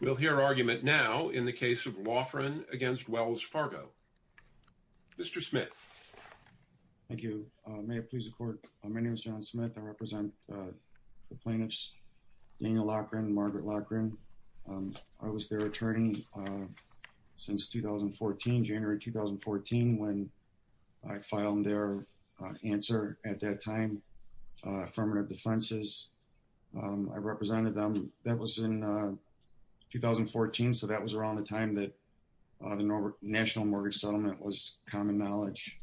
We'll hear argument now in the case of Loughran against Wells Fargo. Mr. Smith. Thank you. May it please the court. My name is John Smith. I represent the plaintiffs Daniel Loughran and Margaret Loughran. I was their attorney since 2014, January 2014, when I filed their answer at that time, affirmative defenses. I represented them. That was in 2014, so that was around the time that the National Mortgage Settlement was common knowledge.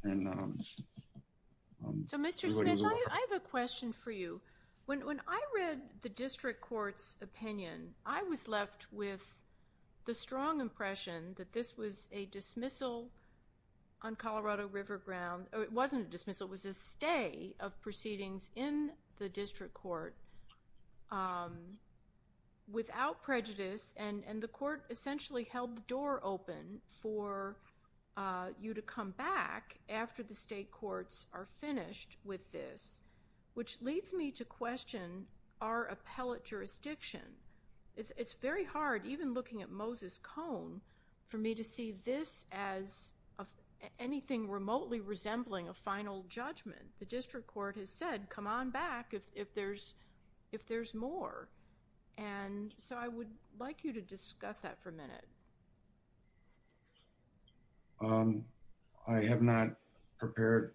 So Mr. Smith, I have a question for you. When I read the district court's opinion, I was left with the strong impression that this was a dismissal on Colorado River Ground. It wasn't a dismissal. It was a stay of proceedings in the district court without prejudice, and the court essentially held the door open for you to come back after the state courts are finished with this, which leads me to question our appellate jurisdiction. It's very hard, even looking at Moses Cone, for me to see this as anything remotely resembling a final judgment. The district court has said, come on back if there's more, and so I would like you to discuss that for a minute. I have not prepared.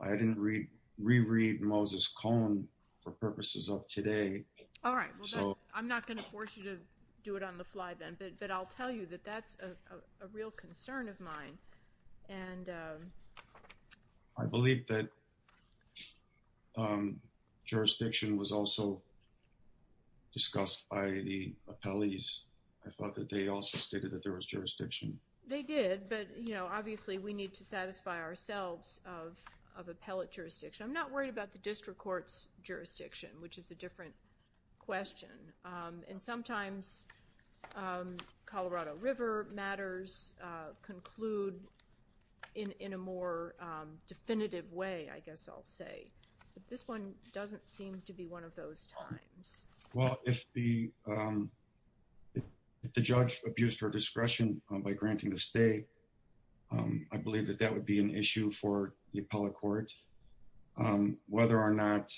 I didn't reread Moses Cone for purposes of today. All right. I'm not going to force you to do it on the fly then, but I'll tell you that that's a real concern of mine. I believe that jurisdiction was also discussed by the appellees. I thought that they also stated that there was jurisdiction. They did, but you know, obviously we need to satisfy ourselves of appellate jurisdiction. I'm not worried about the district court's matters conclude in a more definitive way, I guess I'll say, but this one doesn't seem to be one of those times. Well, if the judge abused her discretion by granting the stay, I believe that that would be an issue for the appellate court. Whether or not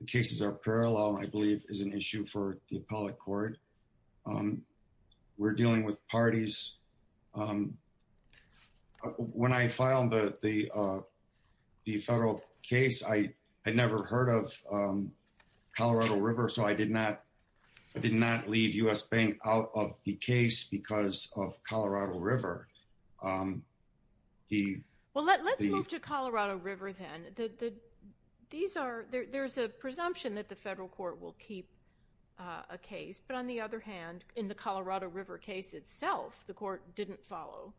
the cases are parallel, I believe is an issue for the parties. When I filed the federal case, I had never heard of Colorado River, so I did not leave U.S. Bank out of the case because of Colorado River. Well, let's move to Colorado River then. There's a presumption that the federal court will keep a case, but on the other hand, in the Colorado River case itself, the court didn't follow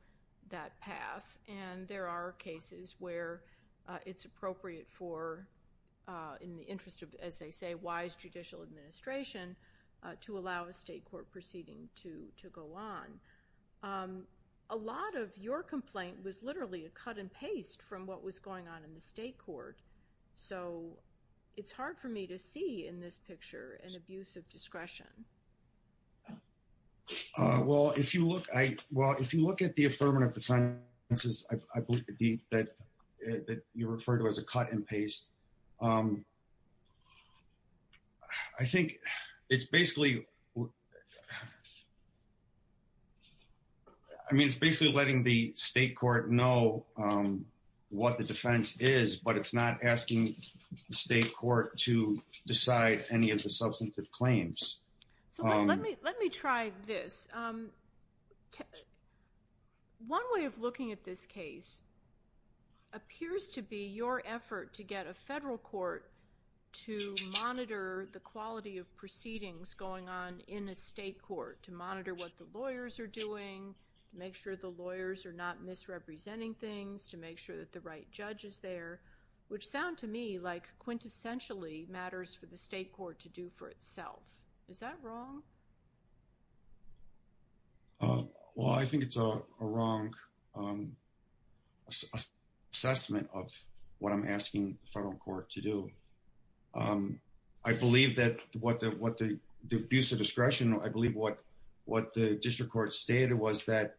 that path, and there are cases where it's appropriate for, in the interest of, as they say, wise judicial administration, to allow a state court proceeding to go on. A lot of your complaint was literally a cut and paste from what was going on in the state court, so it's hard for me to see in this picture an abuse of discretion. Well, if you look at the affirmative defense, I believe that you refer to as a cut and paste. I think it's basically, I mean, it's basically letting the state court know what the defense is, but it's not asking the state court to decide any of the substantive claims. Let me try this. One way of looking at this case appears to be your effort to get a federal court to monitor the quality of proceedings going on in a state court, to monitor what the lawyers are doing, to make sure the lawyers are not misrepresenting things, to make sure that the right judge is there, which sound to me like quintessentially matters for the state court to do for itself. Is that wrong? Well, I think it's a wrong assessment of what I'm asking the federal court to do. I believe that what the abuse of discretion, I believe what the district court stated was that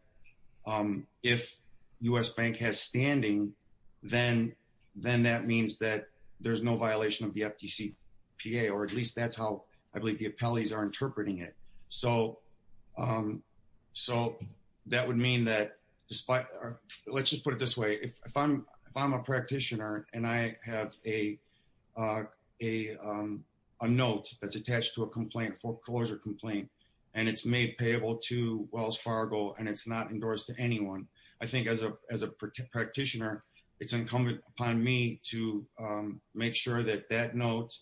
if U.S. Bank has standing, then that means that there's no violation of the FDCPA, or at least that's how I believe the appellees are interpreting it. So that would mean that, let's just put it this way, if I'm a practitioner and I have a note that's attached to a Wells Fargo and it's not endorsed to anyone, I think as a practitioner it's incumbent upon me to make sure that that note,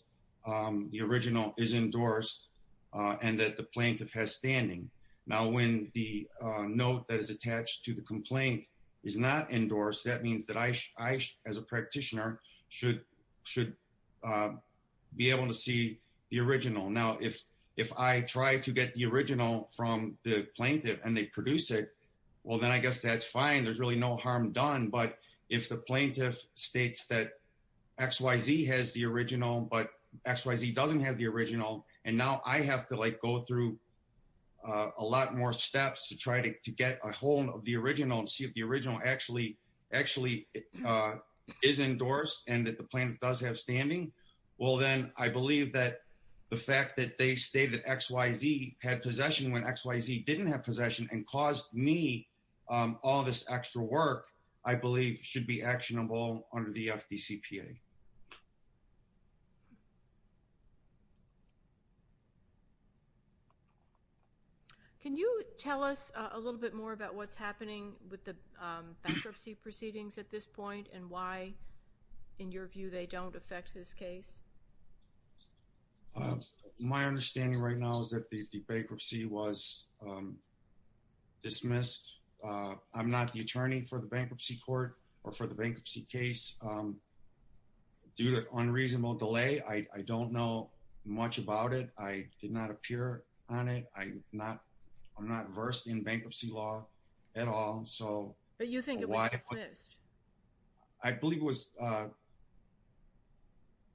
the original, is endorsed and that the plaintiff has standing. Now when the note that is attached to the complaint is not endorsed, that means that I, as a practitioner, should be able to see the original. Now if I try to get the original from the plaintiff and they produce it, well then I guess that's fine, there's really no harm done, but if the plaintiff states that XYZ has the original but XYZ doesn't have the original, and now I have to like go through a lot more steps to try to get a hold of the original and see if the original actually is endorsed and that the plaintiff does have standing, well then I believe that the fact that they stated XYZ had possession when XYZ didn't have possession and caused me all this extra work, I believe should be actionable under the FDCPA. Can you tell us a little bit more about what's happening with the bankruptcy proceedings at this point and why, in your view, they don't affect this case? My understanding right now is that the bankruptcy was dismissed. I'm not the attorney for the bankruptcy court or for the bankruptcy case. Due to unreasonable delay, I don't know much about it. I did not appear on it. I'm not versed in I believe it was,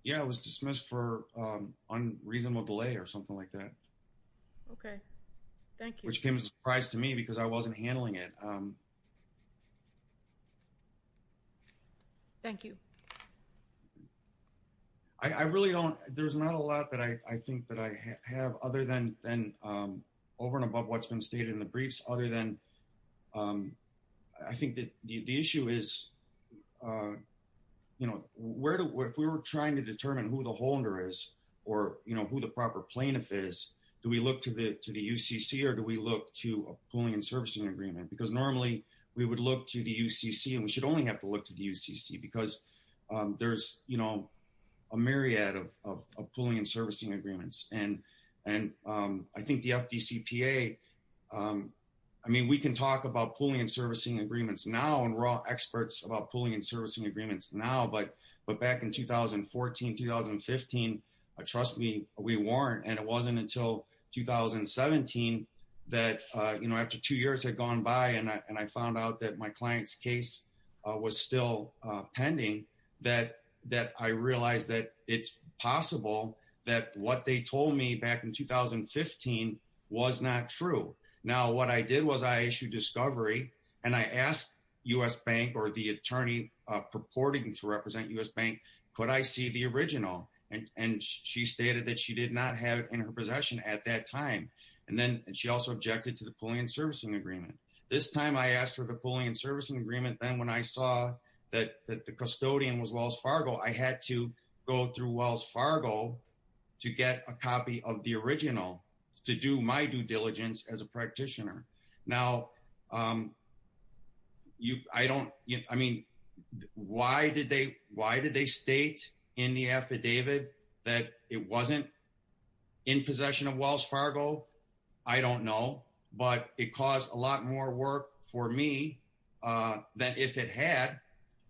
yeah, it was dismissed for unreasonable delay or something like that. Okay, thank you. Which came as a surprise to me because I wasn't handling it. Thank you. I really don't, there's not a lot that I think that I have other than then over and above what's been stated in the briefs, other than I think that the issue is, you know, where do, if we were trying to determine who the holder is or, you know, who the proper plaintiff is, do we look to the UCC or do we look to a pooling and servicing agreement? Because normally, we would look to the UCC and we should only have to look to the UCC because there's, you know, a myriad of pooling and servicing agreements. And I think the FDCPA, I mean, we can talk about pooling and servicing agreements now, and we're all experts about pooling and servicing agreements now. But back in 2014, 2015, trust me, we weren't. And it wasn't until 2017 that, you know, after two years had gone by, and I found out that my client's case was still pending, that I realized that it's possible that what they told me back in 2015 was not true. Now, what I did was I issued discovery, and I asked U.S. Bank or the attorney purporting to represent U.S. Bank, could I see the original? And she stated that she did not have it in her possession at that time. And then she also objected to the pooling and servicing agreement. This time, I asked for the pooling and servicing agreement. Then when I saw that the custodian was Wells Fargo, I had to go through Wells Fargo to get a copy of the original to do my due diligence as a custodian. Now, I mean, why did they state in the affidavit that it wasn't in possession of Wells Fargo? I don't know. But it caused a lot more work for me than if it had.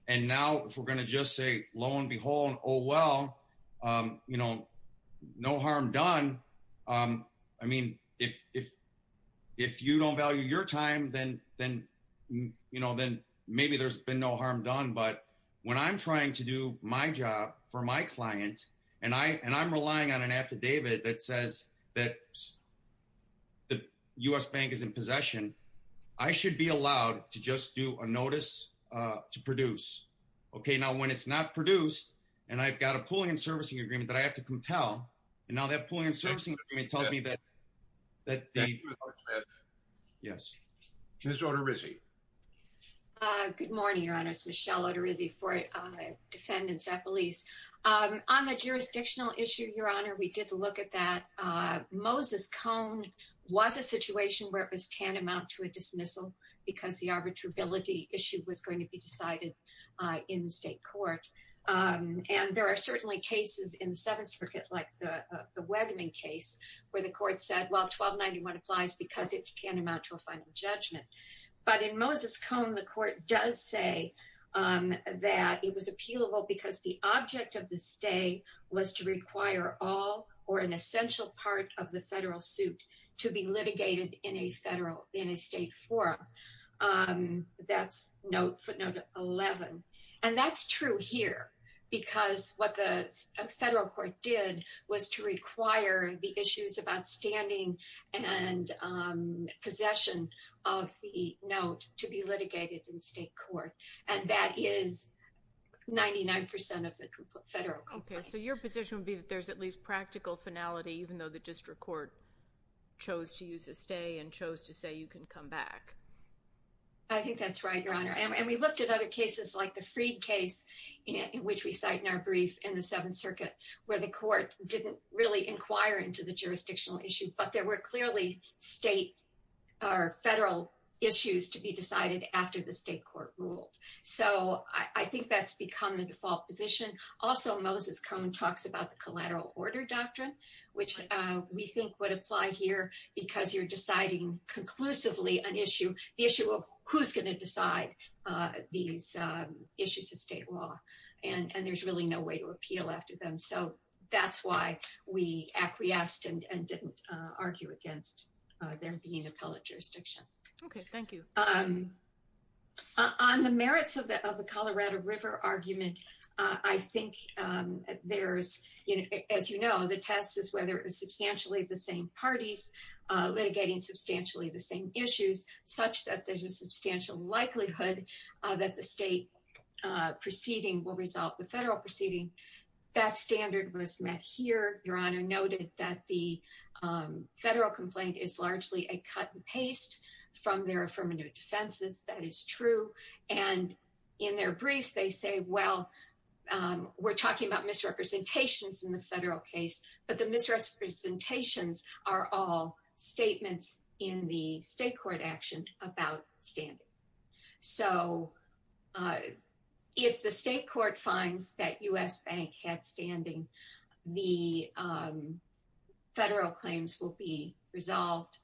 And now if we're going to just say, lo and behold, oh, well, you know, I mean, if you don't value your time, then maybe there's been no harm done. But when I'm trying to do my job for my client, and I'm relying on an affidavit that says that the U.S. Bank is in possession, I should be allowed to just do a notice to produce. Okay, now when it's not produced, and I've got a pooling and servicing agreement that I have to compel, and now that pooling and servicing agreement is in effect, that the, yes. Ms. Oterizzi. Good morning, Your Honor. It's Michelle Oterizzi for defendants at police. On the jurisdictional issue, Your Honor, we did look at that. Moses Cone was a situation where it was tantamount to a dismissal, because the arbitrability issue was going to be decided in the state court. And there are certainly cases in the Wegman case, where the court said, well, 1291 applies because it's tantamount to a final judgment. But in Moses Cone, the court does say that it was appealable because the object of the stay was to require all or an essential part of the federal suit to be litigated in a federal, in a state forum. That's note, footnote 11. And that's true here, because what the federal court did was to require the issues about standing and possession of the note to be litigated in state court. And that is 99% of the federal court. Okay, so your position would be that there's at least practical finality, even though the district court chose to use a stay and chose to say you can come back. I think that's right, Your Honor. And we looked at other cases like the Freed case, in which we cite in our brief in the Seventh Circuit, where the court didn't really inquire into the jurisdictional issue. But there were clearly state or federal issues to be decided after the state court ruled. So I think that's become the default position. Also, Moses Cone talks about the collateral order doctrine, which we think would apply here, because you're deciding conclusively an issue, the issue of who's going to decide these issues of state law, and there's really no way to appeal after them. So that's why we acquiesced and didn't argue against there being appellate jurisdiction. Okay, thank you. On the merits of the Colorado River argument, I think there's, as you know, the test is whether it was substantially the same parties litigating substantially the same issues, such that there's a substantial likelihood that the state proceeding will resolve the federal proceeding. That standard was met here, Your Honor noted that the federal complaint is largely a cut and paste from their affirmative defenses, that is true. And in their brief, they say, well, we're talking about misrepresentations in the federal case, but the misrepresentations are all statements in the state court action about standing. So if the state court finds that US Bank had standing, the federal claims will be resolved.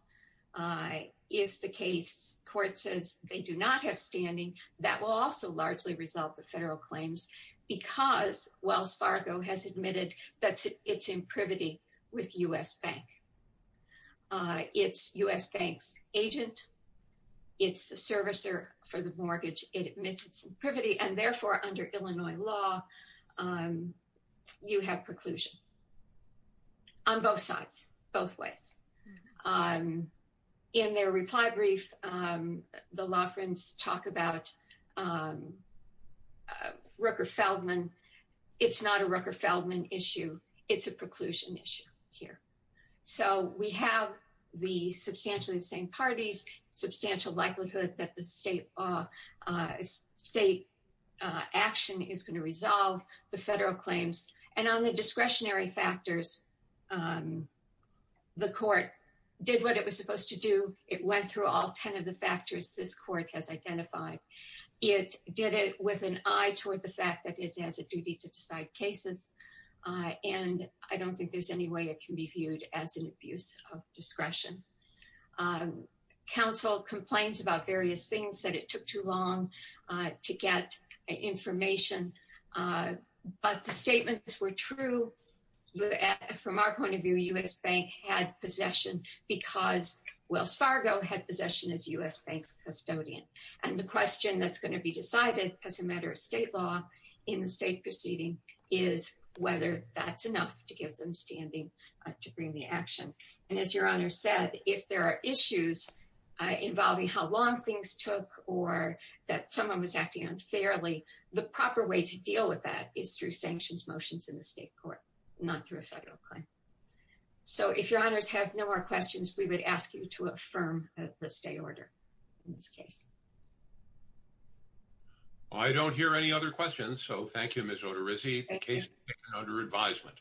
If the case court says they do not have standing, that will also largely resolve the federal claims, because Wells Fargo has admitted that it's in privity with US Bank. It's US Bank's agent, it's the servicer for the mortgage, it admits it's in privity, and therefore, under Illinois law, you have preclusion on both sides, both ways. In their reply brief, the Laughrins talk about Rooker-Feldman, it's not a Rooker-Feldman issue, it's a preclusion issue here. So we have the substantially the same parties, substantial likelihood that the state action is going to resolve the federal claims. And on the discretionary factors, the court did what it was supposed to do, it went through all 10 of the factors this court has identified. It did it with an eye toward the fact that it has a duty to decide cases. And I don't think there's any way it can be viewed as an abuse of counsel complains about various things that it took too long to get information. But the statements were true. From our point of view, US Bank had possession because Wells Fargo had possession as US Bank's custodian. And the question that's going to be decided as a matter of state law in the state proceeding is whether that's enough to give them standing to bring the action. And as Your Honor said, if there are issues involving how long things took, or that someone was acting unfairly, the proper way to deal with that is through sanctions motions in the state court, not through a federal claim. So if Your Honors have no more questions, we would ask you to affirm the stay order in this case. I don't hear any other questions. So thank you, Ms. Oterizzi. The case is under advisement.